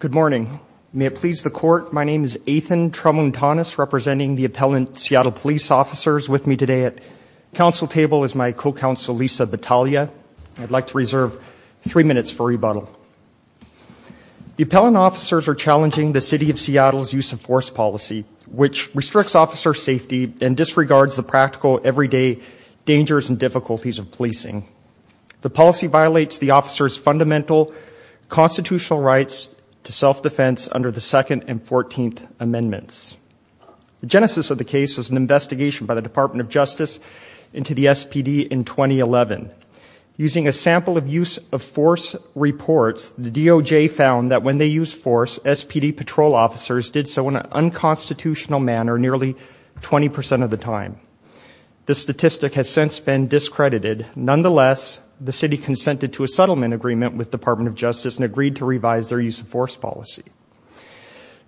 Good morning, may it please the court. My name is Ethan Tramontanis representing the appellant Seattle police officers with me today at Council table is my co-counsel Lisa Battaglia. I'd like to reserve three minutes for rebuttal The appellant officers are challenging the City of Seattle's use of force policy which restricts officer safety and disregards the practical everyday dangers and difficulties of policing The policy violates the officers fundamental Constitutional rights to self-defense under the second and fourteenth amendments The genesis of the case was an investigation by the Department of Justice into the SPD in 2011 Using a sample of use of force Reports the DOJ found that when they use force SPD patrol officers did so in an unconstitutional manner nearly 20% of the time The statistic has since been discredited nonetheless The city consented to a settlement agreement with Department of Justice and agreed to revise their use of force policy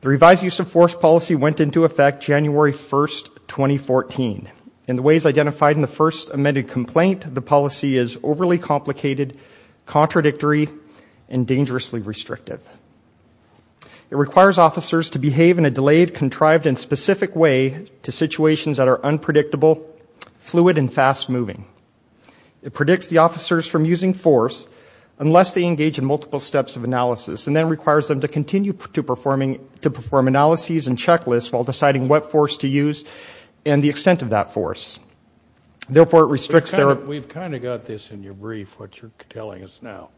The revised use of force policy went into effect January 1st 2014 in the ways identified in the first amended complaint. The policy is overly complicated contradictory and dangerously restrictive It requires officers to behave in a delayed contrived in specific way to situations that are unpredictable fluid and fast-moving It predicts the officers from using force Unless they engage in multiple steps of analysis and then requires them to continue to performing to perform Analyses and checklists while deciding what force to use and the extent of that force Therefore it restricts there. We've kind of got this in your brief what you're telling us now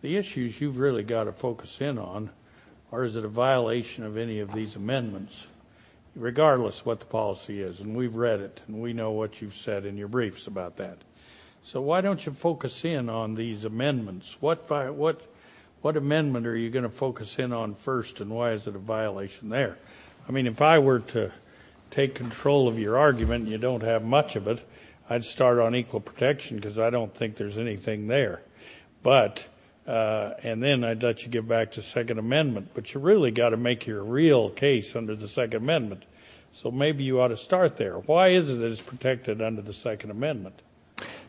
The issues you've really got to focus in on or is it a violation of any of these amendments? Regardless what the policy is and we've read it and we know what you've said in your briefs about that So, why don't you focus in on these amendments? What by what what amendment are you going to focus in on first and why is it a violation there? I mean if I were to take control of your argument, you don't have much of it I'd start on equal protection because I don't think there's anything there but And then I'd let you get back to Second Amendment But you really got to make your real case under the Second Amendment. So maybe you ought to start there Why is it that it's protected under the Second Amendment?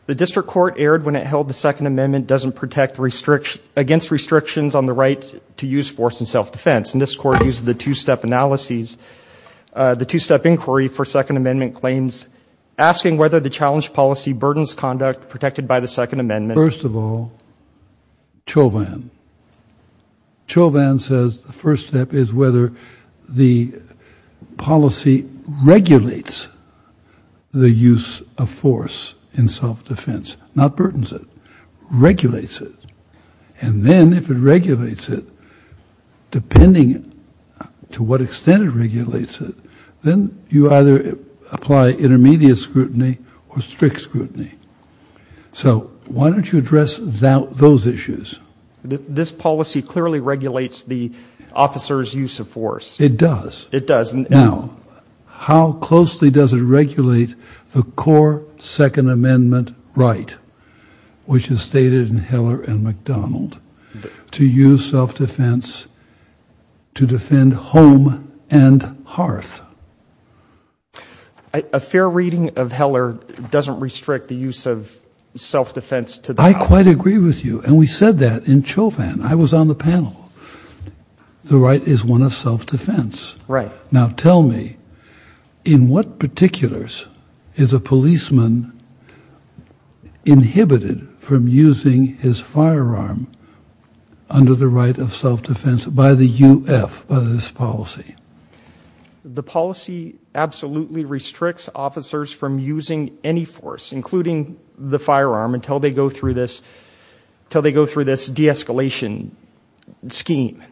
The district court erred when it held the Second Amendment doesn't protect Restriction against restrictions on the right to use force and self-defense and this court used the two-step analyses the two-step inquiry for Second Amendment claims Asking whether the challenge policy burdens conduct protected by the Second Amendment first of all Chauvin Chauvin says the first step is whether the policy regulates The use of force in self-defense not burdens it Regulates it and then if it regulates it Depending to what extent it regulates it then you either apply intermediate scrutiny or strict scrutiny So why don't you address without those issues? This policy clearly regulates the Officers use of force it does it doesn't know How closely does it regulate the core Second Amendment, right? Which is stated in Heller and McDonald? to use self-defense to defend home and hearth a Fair reading of Heller doesn't restrict the use of Self-defense to the I quite agree with you and we said that in Chauvin. I was on the panel The right is one of self-defense right now. Tell me in what particulars is a policeman Inhibited from using his firearm Under the right of self-defense by the UF by this policy the policy Absolutely restricts officers from using any force including the firearm until they go through this Till they go through this de-escalation scheme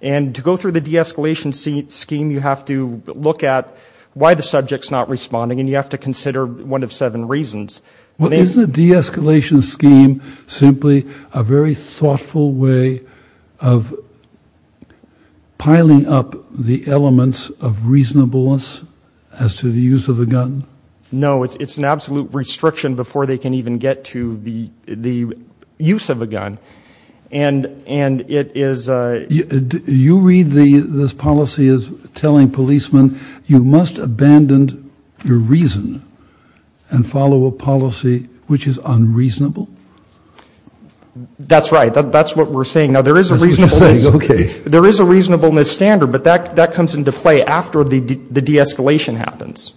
and to go through the de-escalation seat scheme You have to look at why the subjects not responding and you have to consider one of seven reasons what is the de-escalation scheme simply a very thoughtful way of Piling up the elements of reasonableness as to the use of a gun no, it's it's an absolute restriction before they can even get to the the use of a gun and and it is You read the this policy is telling policemen. You must abandon your reason and Follow a policy which is unreasonable That's right, that's what we're saying now there is a reason there is a reasonableness standard, but that that comes into play after the de-escalation happens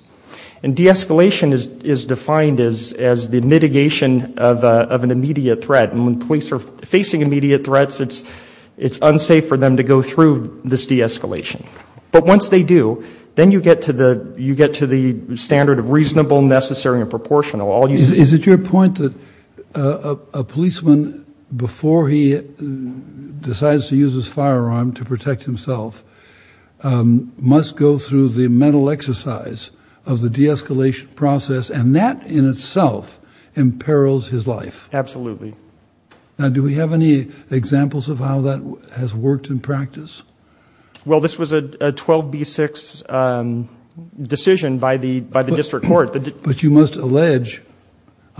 and De-escalation is is defined as as the mitigation of an immediate threat and when police are facing immediate threats It's it's unsafe for them to go through this de-escalation But once they do then you get to the you get to the standard of reasonable necessary and proportional all you see is it your point that a policeman before he Decides to use his firearm to protect himself Must go through the mental exercise of the de-escalation process and that in itself imperils his life. Absolutely Now do we have any examples of how that has worked in practice? Well, this was a 12b6 Decision by the by the district court, but you must allege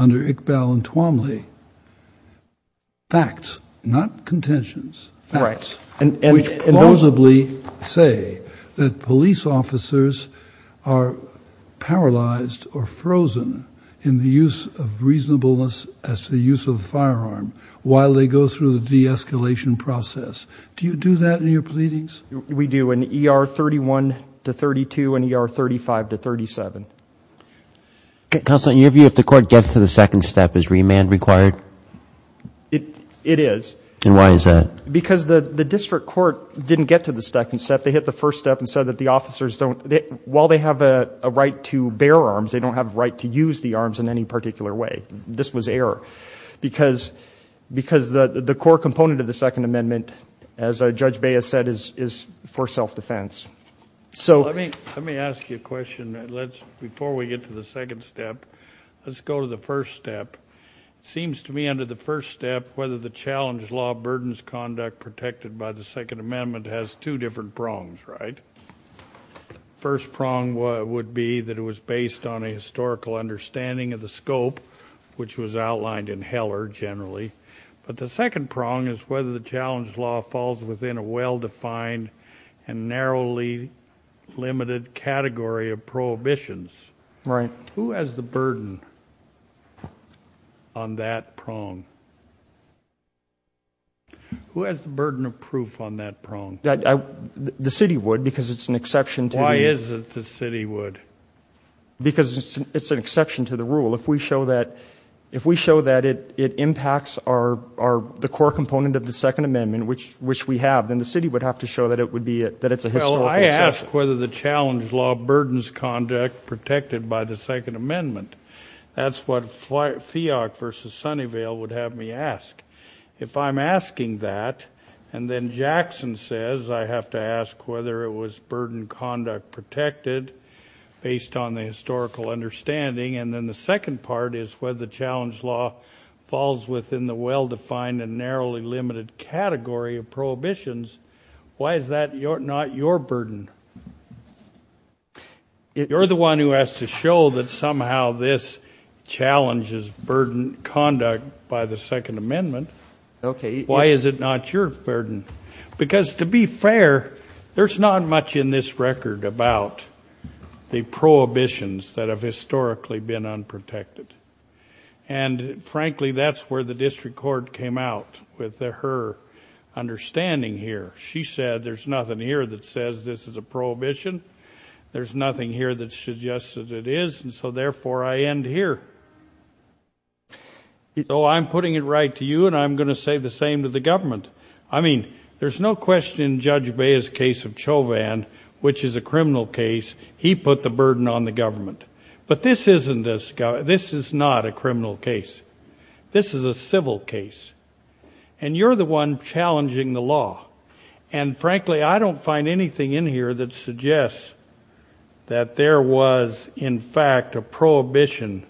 under Iqbal and Twombly Facts not contentions rights and and those of Lee say that police officers are Paralyzed or frozen in the use of reasonableness as to the use of the firearm while they go through the de-escalation Process, do you do that in your pleadings? We do an ER 31 to 32 and ER 35 to 37 Counseling your view if the court gets to the second step is remand required It it is and why is that because the the district court didn't get to the second step? They hit the first step and said that the officers don't while they have a right to bear arms They don't have right to use the arms in any particular way. This was error because Because the the core component of the Second Amendment as a judge Baya said is is for self-defense So, I mean, let me ask you a question. Let's before we get to the second step. Let's go to the first step Seems to me under the first step whether the challenge law burdens conduct protected by the Second Amendment has two different prongs, right? First prong would be that it was based on a historical understanding of the scope Which was outlined in Heller generally, but the second prong is whether the challenge law falls within a well-defined and narrowly limited category of prohibitions right who has the burden of that prong Who has the burden of proof on that prong that the city would because it's an exception to why is it the city would because it's an exception to the rule if we show that if we show that it it impacts our the core component of the Second Amendment Which which we have then the city would have to show that it would be it that it's a hell I ask whether the challenge law burdens conduct protected by the Second Amendment That's what FIOC versus Sunnyvale would have me ask if I'm asking that and then Jackson says I have to ask whether it was burden conduct protected Based on the historical understanding and then the second part is whether the challenge law Falls within the well-defined and narrowly limited category of prohibitions. Why is that you're not your burden? If you're the one who has to show that somehow this Challenges burden conduct by the Second Amendment Okay, why is it not your burden because to be fair? There's not much in this record about the prohibitions that have historically been unprotected and Frankly, that's where the district court came out with their her Understanding here. She said there's nothing here that says this is a prohibition There's nothing here that suggested it is and so therefore I end here So I'm putting it right to you and I'm gonna say the same to the government I mean, there's no question judge Bayes case of Chauvin, which is a criminal case He put the burden on the government, but this isn't this guy. This is not a criminal case This is a civil case and you're the one challenging the law and Frankly, I don't find anything in here that suggests That there was in fact a prohibition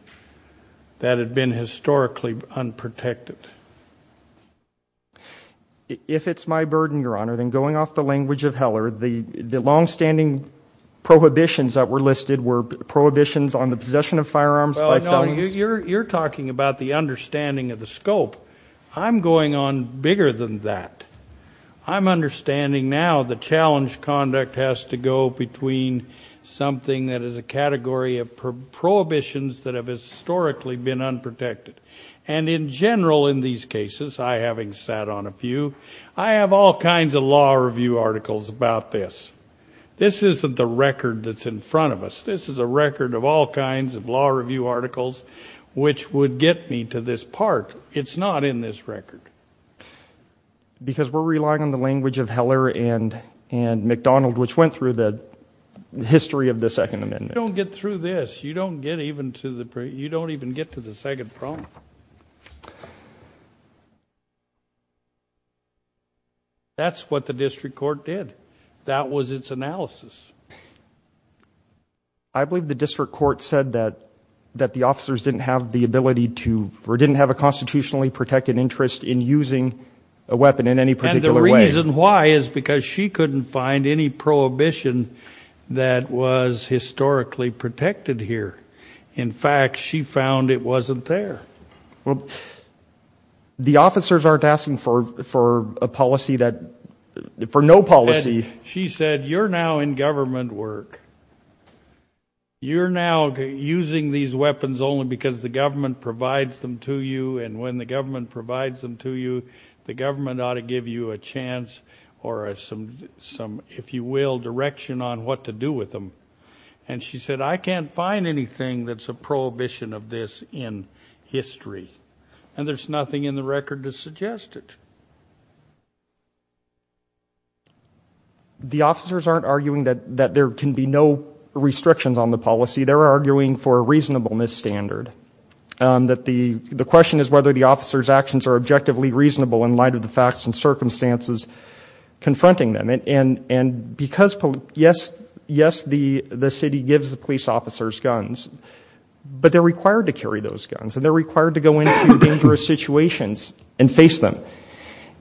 That had been historically unprotected If it's my burden your honor than going off the language of Heller the the long-standing Prohibitions that were listed were prohibitions on the possession of firearms You're talking about the understanding of the scope. I'm going on bigger than that I'm understanding now the challenge conduct has to go between something that is a category of Prohibitions that have historically been unprotected and in general in these cases I having sat on a few I have all kinds of law review articles about this This isn't the record that's in front of us This is a record of all kinds of law review articles, which would get me to this part. It's not in this record because we're relying on the language of Heller and and McDonald which went through the History of the Second Amendment don't get through this. You don't get even to the parade. You don't even get to the second problem You That's what the district court did that was its analysis I Believe the district court said that that the officers didn't have the ability to or didn't have a Constitutionally protected interest in using a weapon in any particular reason why is because she couldn't find any prohibition That was historically protected here. In fact, she found it wasn't there well The officers aren't asking for for a policy that for no policy. She said you're now in government work You're now Using these weapons only because the government provides them to you and when the government provides them to you The government ought to give you a chance or a some some if you will direction on what to do with them And she said I can't find anything that's a prohibition of this in History and there's nothing in the record to suggest it The officers aren't arguing that that there can be no restrictions on the policy they're arguing for a reasonableness standard That the the question is whether the officers actions are objectively reasonable in light of the facts and circumstances Confronting them and and and because yes, yes the the city gives the police officers guns but they're required to carry those guns and they're required to go into dangerous situations and face them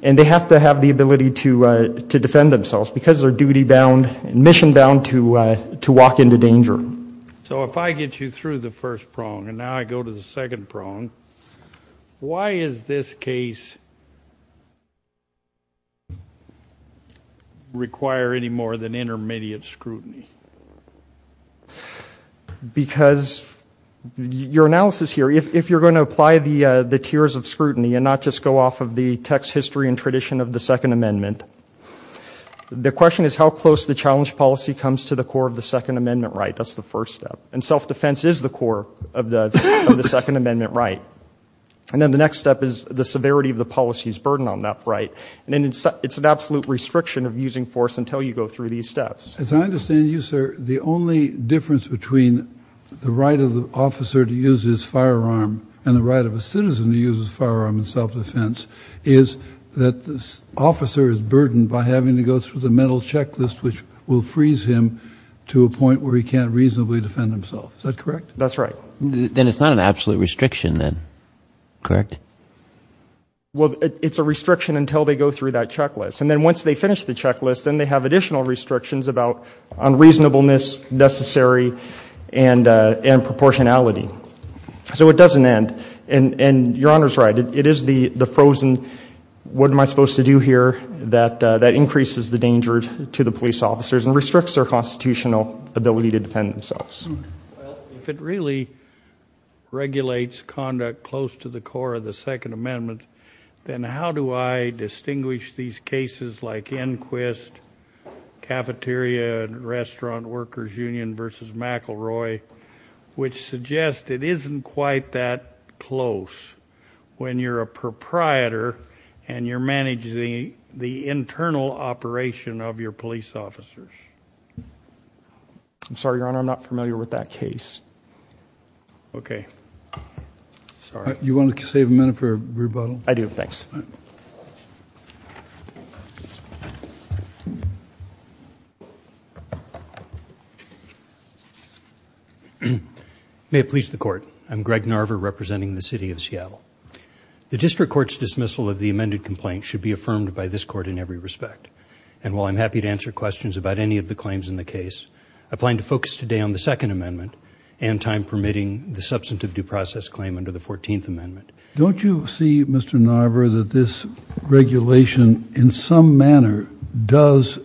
and They have to have the ability to to defend themselves because they're duty-bound and mission bound to to walk into danger So if I get you through the first prong and now I go to the second prong Why is this case? Require any more than intermediate scrutiny Because Your analysis here if you're going to apply the the tiers of scrutiny and not just go off of the text history and tradition of the Second Amendment The question is how close the challenge policy comes to the core of the Second Amendment, right? That's the first step and self-defense is the core of the of the Second Amendment, right? And then the next step is the severity of the policies burden on that, right? And then it's it's an absolute restriction of using force until you go through these steps as I understand you sir the only difference between the right of the officer to use his firearm and the right of a citizen to use his firearm in self-defense is That this officer is burdened by having to go through the mental checklist Which will freeze him to a point where he can't reasonably defend himself. Is that correct? That's right Then it's not an absolute restriction then correct Well, it's a restriction until they go through that checklist and then once they finish the checklist and they have additional restrictions about unreasonableness necessary and and proportionality So it doesn't end and and your honor's right. It is the the frozen What am I supposed to do here that that increases the dangers to the police officers and restricts their constitutional ability to defend themselves? If it really Regulates conduct close to the core of the Second Amendment, then how do I distinguish these cases like inquest? cafeteria and restaurant workers union versus McElroy Which suggests it isn't quite that close When you're a proprietor and you're managing the internal operation of your police officers I'm sorry, your honor. I'm not familiar with that case Okay Sorry, you want to save a minute for a rebuttal? I do. Thanks May it please the court. I'm Greg Narver representing the city of Seattle The district courts dismissal of the amended complaint should be affirmed by this court in every respect And while I'm happy to answer questions about any of the claims in the case Applying to focus today on the Second Amendment and time permitting the substantive due process claim under the 14th Amendment Don't you see? Mr. Narver that this regulation in some manner does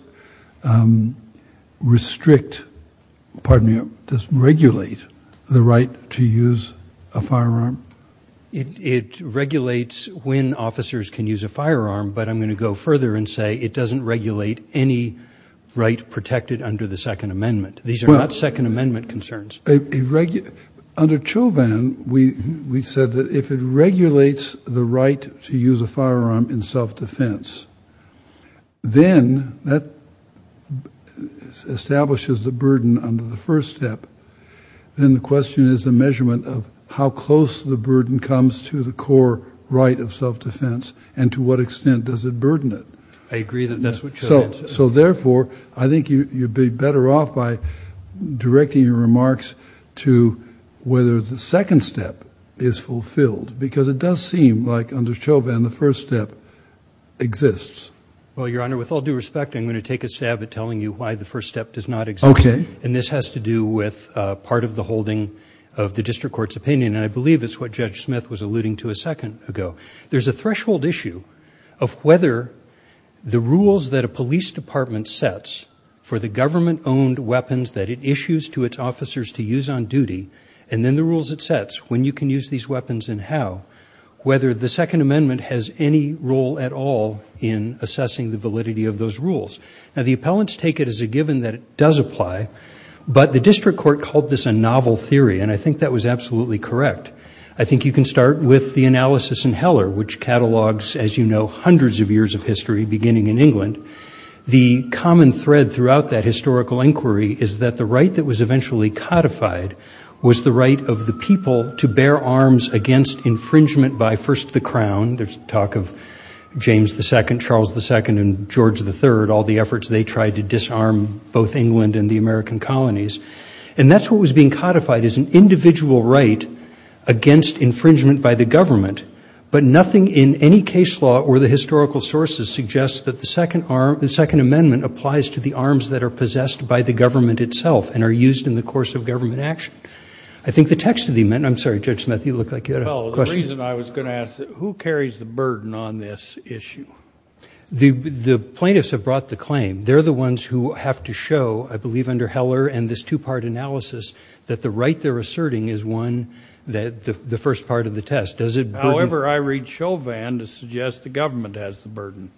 Restrict Pardon me. Just regulate the right to use a firearm It regulates when officers can use a firearm But I'm going to go further and say it doesn't regulate any Right protected under the Second Amendment. These are not Second Amendment concerns a Under Chauvin, we we said that if it regulates the right to use a firearm in self-defense then that Establishes the burden under the first step Then the question is the measurement of how close the burden comes to the core Right of self-defense and to what extent does it burden it? I agree that that's what so so therefore I think you'd be better off by directing your remarks to Whether the second step is fulfilled because it does seem like under Chauvin the first step Exists. Well, your honor with all due respect I'm going to take a stab at telling you why the first step does not exist Okay And this has to do with part of the holding of the district courts opinion and I believe it's what Judge Smith was alluding To a second ago. There's a threshold issue of whether the rules that a police department Sets for the government owned weapons that it issues to its officers to use on duty And then the rules it sets when you can use these weapons and how Whether the Second Amendment has any role at all in assessing the validity of those rules Now the appellants take it as a given that it does apply But the district court called this a novel theory and I think that was absolutely correct I think you can start with the analysis in Heller which catalogs as you know hundreds of years of history beginning in England The common thread throughout that historical inquiry is that the right that was eventually codified Was the right of the people to bear arms against infringement by first the crown There's talk of James the second Charles the second and George the third all the efforts They tried to disarm both England and the American colonies and that's what was being codified as an individual, right? against infringement by the government But nothing in any case law or the historical sources Suggests that the second arm the Second Amendment applies to the arms that are possessed by the government itself and are used in the course Of government action. I think the text of the amendment. I'm sorry judge Smith. You look like Who carries the burden on this issue The the plaintiffs have brought the claim They're the ones who have to show I believe under Heller and this two-part analysis that the right they're asserting is one That the first part of the test does it? However, I read Chauvin to suggest the government has the burden.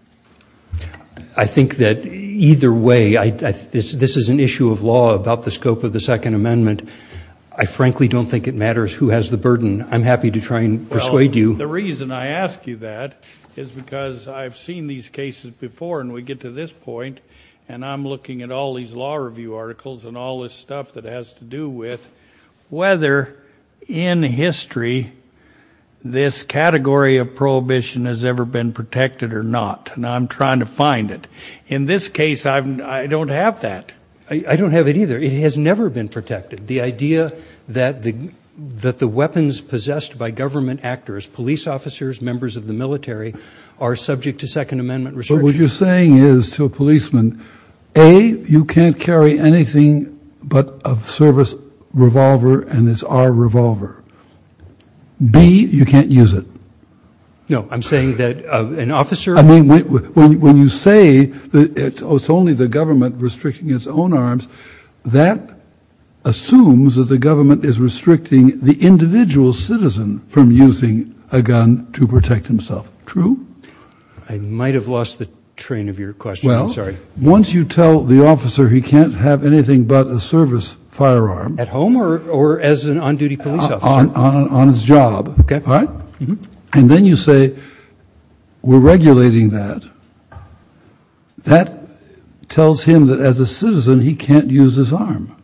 I Think that either way I this is an issue of law about the scope of the Second Amendment I frankly don't think it matters who has the burden I'm happy to try and persuade you the reason I ask you that is Because I've seen these cases before and we get to this point and I'm looking at all these law review articles and all this stuff That has to do with Whether in history This category of prohibition has ever been protected or not. Now. I'm trying to find it in this case I don't have that. I don't have it either It has never been protected the idea that the that the weapons possessed by government actors police officers members of the military Are subject to Second Amendment research what you're saying is to a policeman a you can't carry anything But of service revolver and it's our revolver B you can't use it No, I'm saying that an officer. I mean when you say that it's only the government restricting its own arms that Assumes that the government is restricting the individual citizen from using a gun to protect himself true I might have lost the train of your question Once you tell the officer he can't have anything but a service firearm at home or or as an on-duty police On his job. Okay. All right, and then you say We're regulating that That Tells him that as a citizen, he can't use his arm.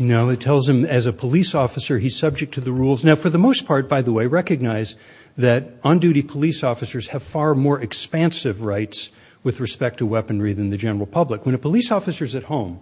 No, it tells him as a police officer He's subject to the rules now for the most part by the way recognize that on-duty police officers have far more Expansive rights with respect to weaponry than the general public when a police officers at home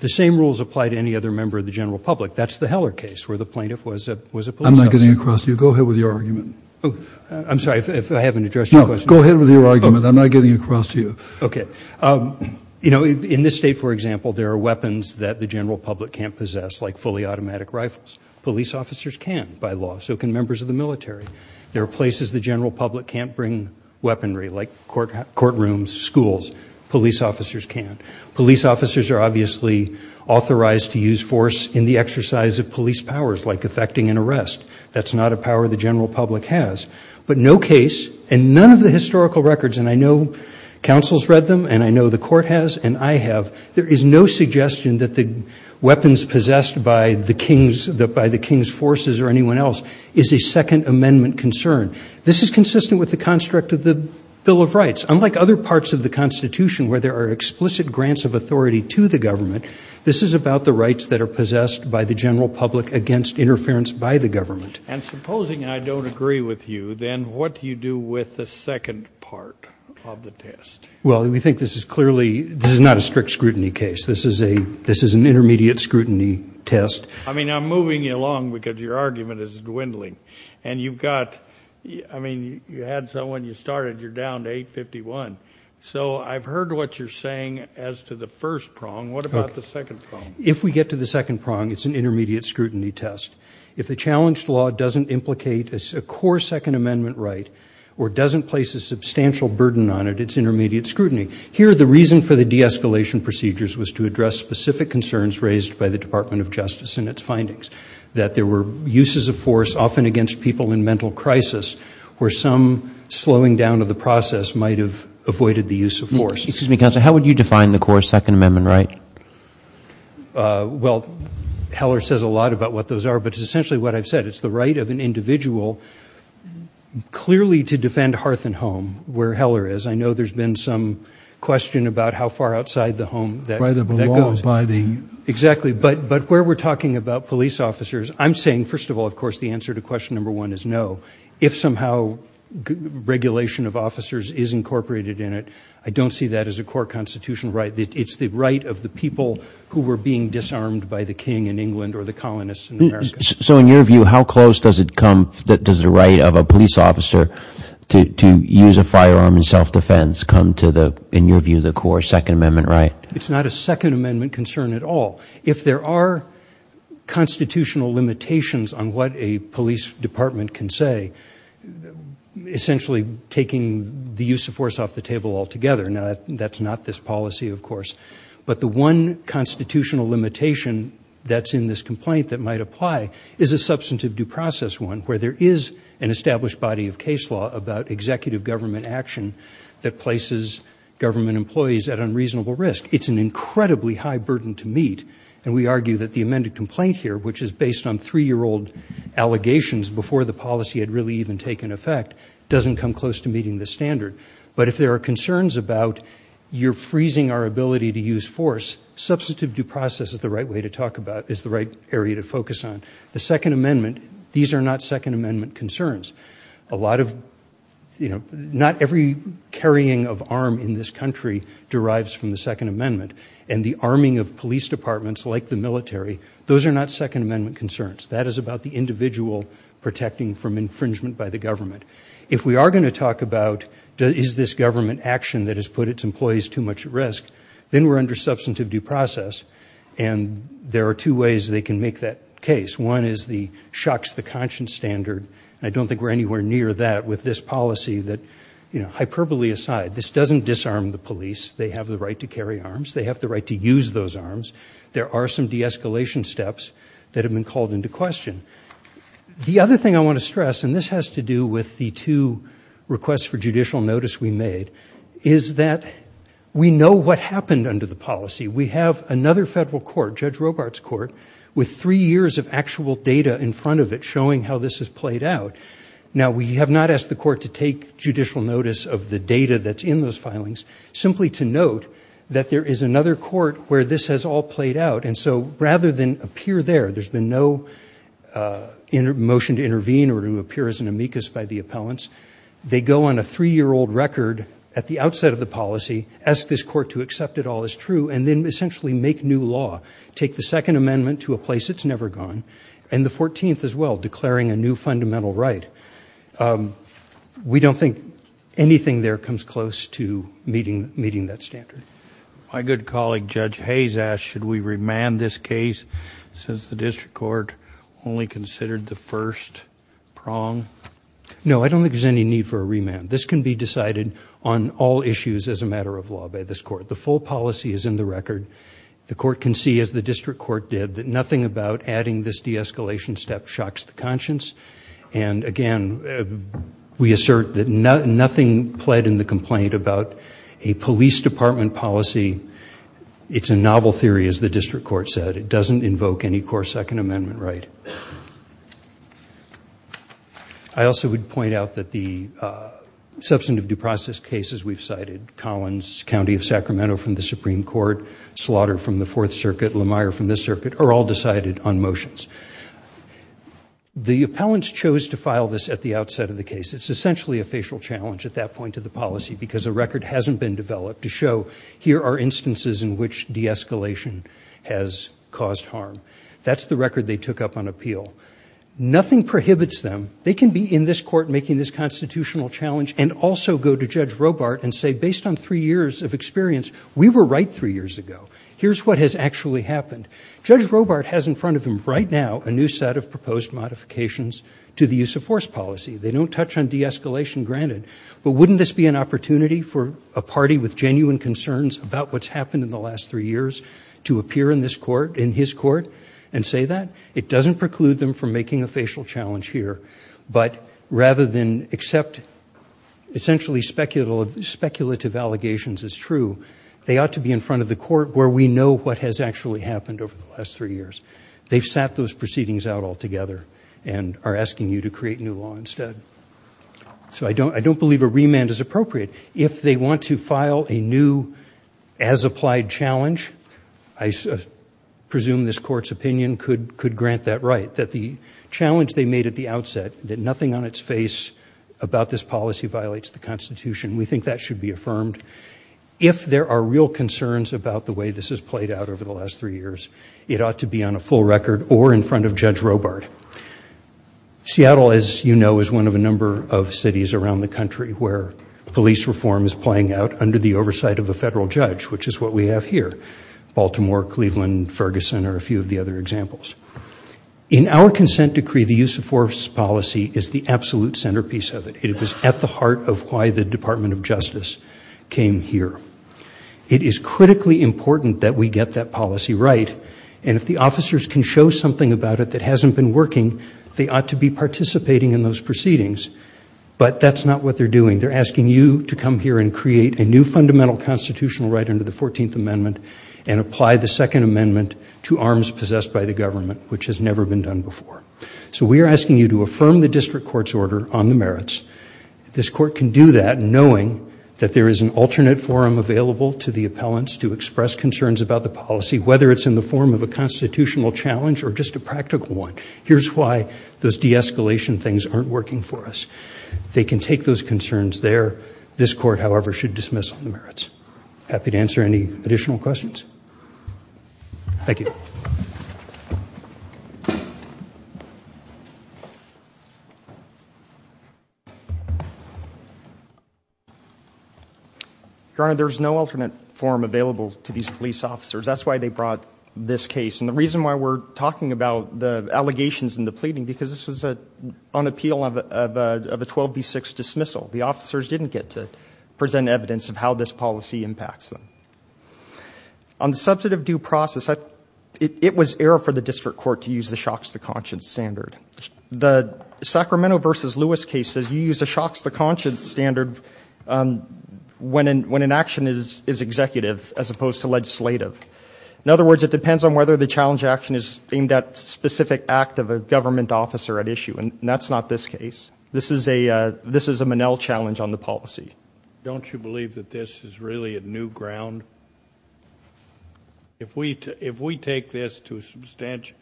The same rules apply to any other member of the general public That's the Heller case where the plaintiff was a was a police. I'm not getting across to you. Go ahead with your argument Oh, I'm sorry if I haven't addressed go ahead with your argument. I'm not getting across to you. Okay You know in this state, for example, there are weapons that the general public can't possess like fully automatic rifles Police officers can by law so can members of the military there are places the general public can't bring Weaponry like court court rooms schools police officers can't police officers are obviously Authorized to use force in the exercise of police powers like effecting an arrest That's not a power the general public has but no case and none of the historical records and I know councils read them and I know the court has and I have there is no suggestion that the Weapons possessed by the king's that by the king's forces or anyone else is a second amendment concern This is consistent with the construct of the Bill of Rights Unlike other parts of the Constitution where there are explicit grants of authority to the government This is about the rights that are possessed by the general public against interference by the government and supposing I don't agree with you. Then what do you do with the second part of the test? Well, we think this is clearly this is not a strict scrutiny case This is a this is an intermediate scrutiny test I mean, I'm moving you along because your argument is dwindling and you've got I mean you had someone you started you're down to 851 so I've heard what you're saying as to the first prong What about the second if we get to the second prong? It's an intermediate scrutiny test if the challenged law doesn't implicate as a core second amendment, right? Or doesn't place a substantial burden on it. It's intermediate scrutiny here The reason for the de-escalation procedures was to address specific concerns raised by the Department of Justice in its findings That there were uses of force often against people in mental crisis where some Slowing down of the process might have avoided the use of force. Excuse me counselor. How would you define the core Second Amendment, right? Well Heller says a lot about what those are but it's essentially what I've said it's the right of an individual Clearly to defend hearth and home where Heller is. I know there's been some question about how far outside the home Exactly but but where we're talking about police officers, I'm saying first of all, of course the answer to question number one is no if somehow Regulation of officers is incorporated in it. I don't see that as a core constitutional, right? It's the right of the people who were being disarmed by the king in England or the colonists So in your view how close does it come that does the right of a police officer To use a firearm in self-defense come to the in your view the core Second Amendment, right? It's not a Second Amendment concern at all if there are Constitutional limitations on what a police department can say Essentially taking the use of force off the table altogether now, that's not this policy, of course, but the one Constitutional limitation that's in this complaint that might apply is a substantive due process one where there is an Established body of case law about executive government action that places government employees at unreasonable risk It's an incredibly high burden to meet and we argue that the amended complaint here, which is based on three-year-old Allegations before the policy had really even taken effect doesn't come close to meeting the standard But if there are concerns about You're freezing our ability to use force Substantive due process is the right way to talk about is the right area to focus on the Second Amendment These are not Second Amendment concerns a lot of you know Not every carrying of arm in this country derives from the Second Amendment and the arming of police departments like the military Protecting from infringement by the government if we are going to talk about is this government action that has put its employees too much risk, then we're under substantive due process and There are two ways they can make that case. One is the shocks the conscience standard I don't think we're anywhere near that with this policy that you know hyperbole aside. This doesn't disarm the police They have the right to carry arms. They have the right to use those arms. There are some de-escalation steps that have been called into question The other thing I want to stress and this has to do with the two Requests for judicial notice we made is that we know what happened under the policy We have another federal court judge Robarts court with three years of actual data in front of it showing how this has played out Now we have not asked the court to take judicial notice of the data That's in those filings simply to note that there is another court where this has all played out And so rather than appear there, there's been no In motion to intervene or to appear as an amicus by the appellants They go on a three-year-old record at the outset of the policy Ask this court to accept it all is true and then essentially make new law Take the Second Amendment to a place. It's never gone and the 14th as well declaring a new fundamental, right? We don't think Anything there comes close to meeting meeting that standard my good colleague judge Hayes asked should we remand this case? Since the district court only considered the first prong No, I don't think there's any need for a remand This can be decided on all issues as a matter of law by this court The full policy is in the record the court can see as the district court did that nothing about adding this de-escalation step shocks the conscience and again We assert that nothing pled in the complaint about a police department policy It's a novel theory as the district court said it doesn't invoke any core Second Amendment, right? I Also would point out that the substantive due process cases We've cited Collins County of Sacramento from the Supreme Court Slaughter from the Fourth Circuit Lamar from this circuit are all decided on motions The appellants chose to file this at the outset of the case It's essentially a facial challenge at that point of the policy because a record hasn't been developed to show Here are instances in which de-escalation has caused harm. That's the record. They took up on appeal nothing prohibits them they can be in this court making this Constitutional challenge and also go to judge Robart and say based on three years of experience. We were right three years ago Here's what has actually happened judge Robart has in front of him right now a new set of proposed Modifications to the use of force policy. They don't touch on de-escalation granted But wouldn't this be an opportunity for a party with genuine concerns about what's happened in the last three years To appear in this court in his court and say that it doesn't preclude them from making a facial challenge here but rather than accept Essentially speculative speculative allegations is true They ought to be in front of the court where we know what has actually happened over the last three years They've sat those proceedings out altogether and are asking you to create new law instead So, I don't I don't believe a remand is appropriate if they want to file a new as applied challenge I Presume this court's opinion could could grant that right that the challenge they made at the outset that nothing on its face About this policy violates the Constitution. We think that should be affirmed If there are real concerns about the way this has played out over the last three years It ought to be on a full record or in front of judge Robart Seattle as you know is one of a number of cities around the country where Police reform is playing out under the oversight of a federal judge, which is what we have here Baltimore Cleveland Ferguson are a few of the other examples In our consent decree the use of force policy is the absolute centerpiece of it It was at the heart of why the Department of Justice came here And if the officers can show something about it that hasn't been working they ought to be participating in those proceedings But that's not what they're doing they're asking you to come here and create a new fundamental constitutional right under the 14th Amendment and Apply the Second Amendment to arms possessed by the government, which has never been done before So we are asking you to affirm the district courts order on the merits This court can do that knowing that there is an alternate forum available to the appellants to express concerns about the policy Whether it's in the form of a constitutional challenge or just a practical one. Here's why those de-escalation things aren't working for us They can take those concerns there this court. However should dismiss on the merits happy to answer any additional questions Thank you Your Honor there's no alternate forum available to these police officers that's why they brought this case and the reason why we're talking about the allegations in the pleading because this was a on appeal of a 12b 6 dismissal the officers didn't get to present evidence of how this policy impacts them on Subjective due process that it was error for the district court to use the shocks the conscience standard the Sacramento vs. Lewis case says you use the shocks the conscience standard When and when an action is is executive as opposed to legislative in other words It depends on whether the challenge action is aimed at specific act of a government officer at issue and that's not this case This is a this is a Manel challenge on the policy. Don't you believe that this is really a new ground? If we if we take this to a substantial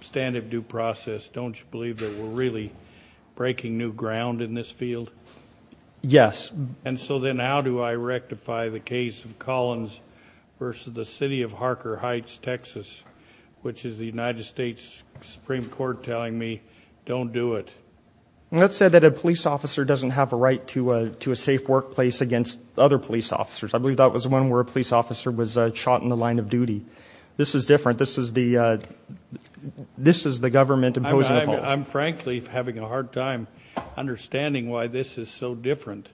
Stand of due process. Don't you believe that we're really? breaking new ground in this field Yes, and so then how do I rectify the case of Collins versus the city of Harker Heights, Texas? Which is the United States Supreme Court telling me don't do it Let's say that a police officer doesn't have a right to to a safe workplace against other police officers I believe that was one where a police officer was shot in the line of duty. This is different. This is the This is the government imposing. I'm frankly having a hard time Understanding why this is so different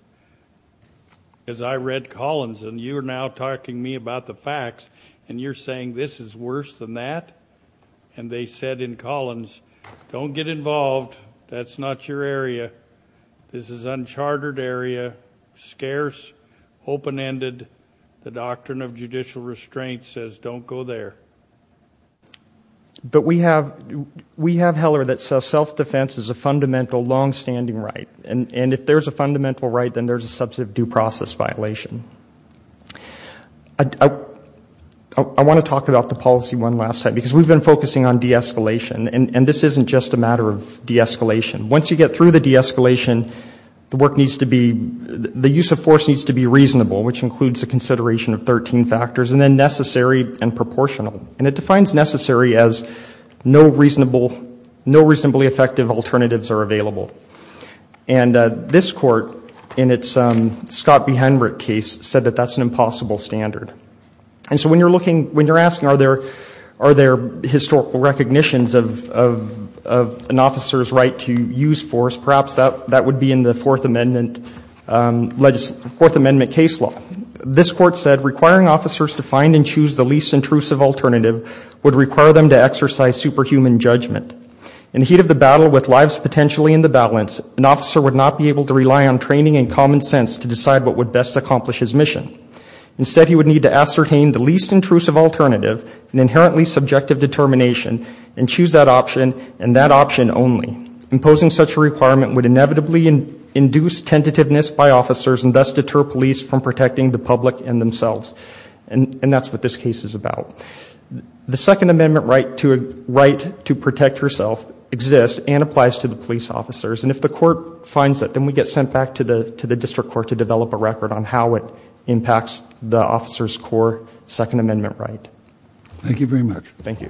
as I read Collins and you are now talking me about the facts and you're saying this is worse than that and They said in Collins don't get involved. That's not your area. This is uncharted area scarce Open-ended the doctrine of judicial restraint says don't go there But we have we have Heller that self-defense is a fundamental long-standing right and and if there's a fundamental right then there's a substantive due process violation I Want to talk about the policy one last time because we've been focusing on de-escalation and and this isn't just a matter of de-escalation once you get through the de-escalation The work needs to be the use of force needs to be reasonable which includes the consideration of 13 factors and then necessary and proportional and it defines necessary as no reasonable no reasonably effective alternatives are available and this court in its Scott behind Rick case said that that's an impossible standard and so when you're looking when you're asking are there are there historical recognitions of An officer's right to use force perhaps that that would be in the Fourth Amendment Fourth Amendment case law this court said requiring officers to find and choose the least intrusive Alternative would require them to exercise superhuman judgment in the heat of the battle with lives Potentially in the balance an officer would not be able to rely on training and common sense to decide what would best accomplish his mission Instead he would need to ascertain the least intrusive alternative an inherently subjective determination and choose that option and that option only imposing such a requirement would inevitably and induce tentativeness by officers and thus deter police from protecting the public and themselves and and that's what this case is about The Second Amendment right to a right to protect herself exists and applies to the police officers and if the court Finds that then we get sent back to the to the district court to develop a record on how it impacts the officers core Second Amendment, right? Thank you very much. Thank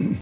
you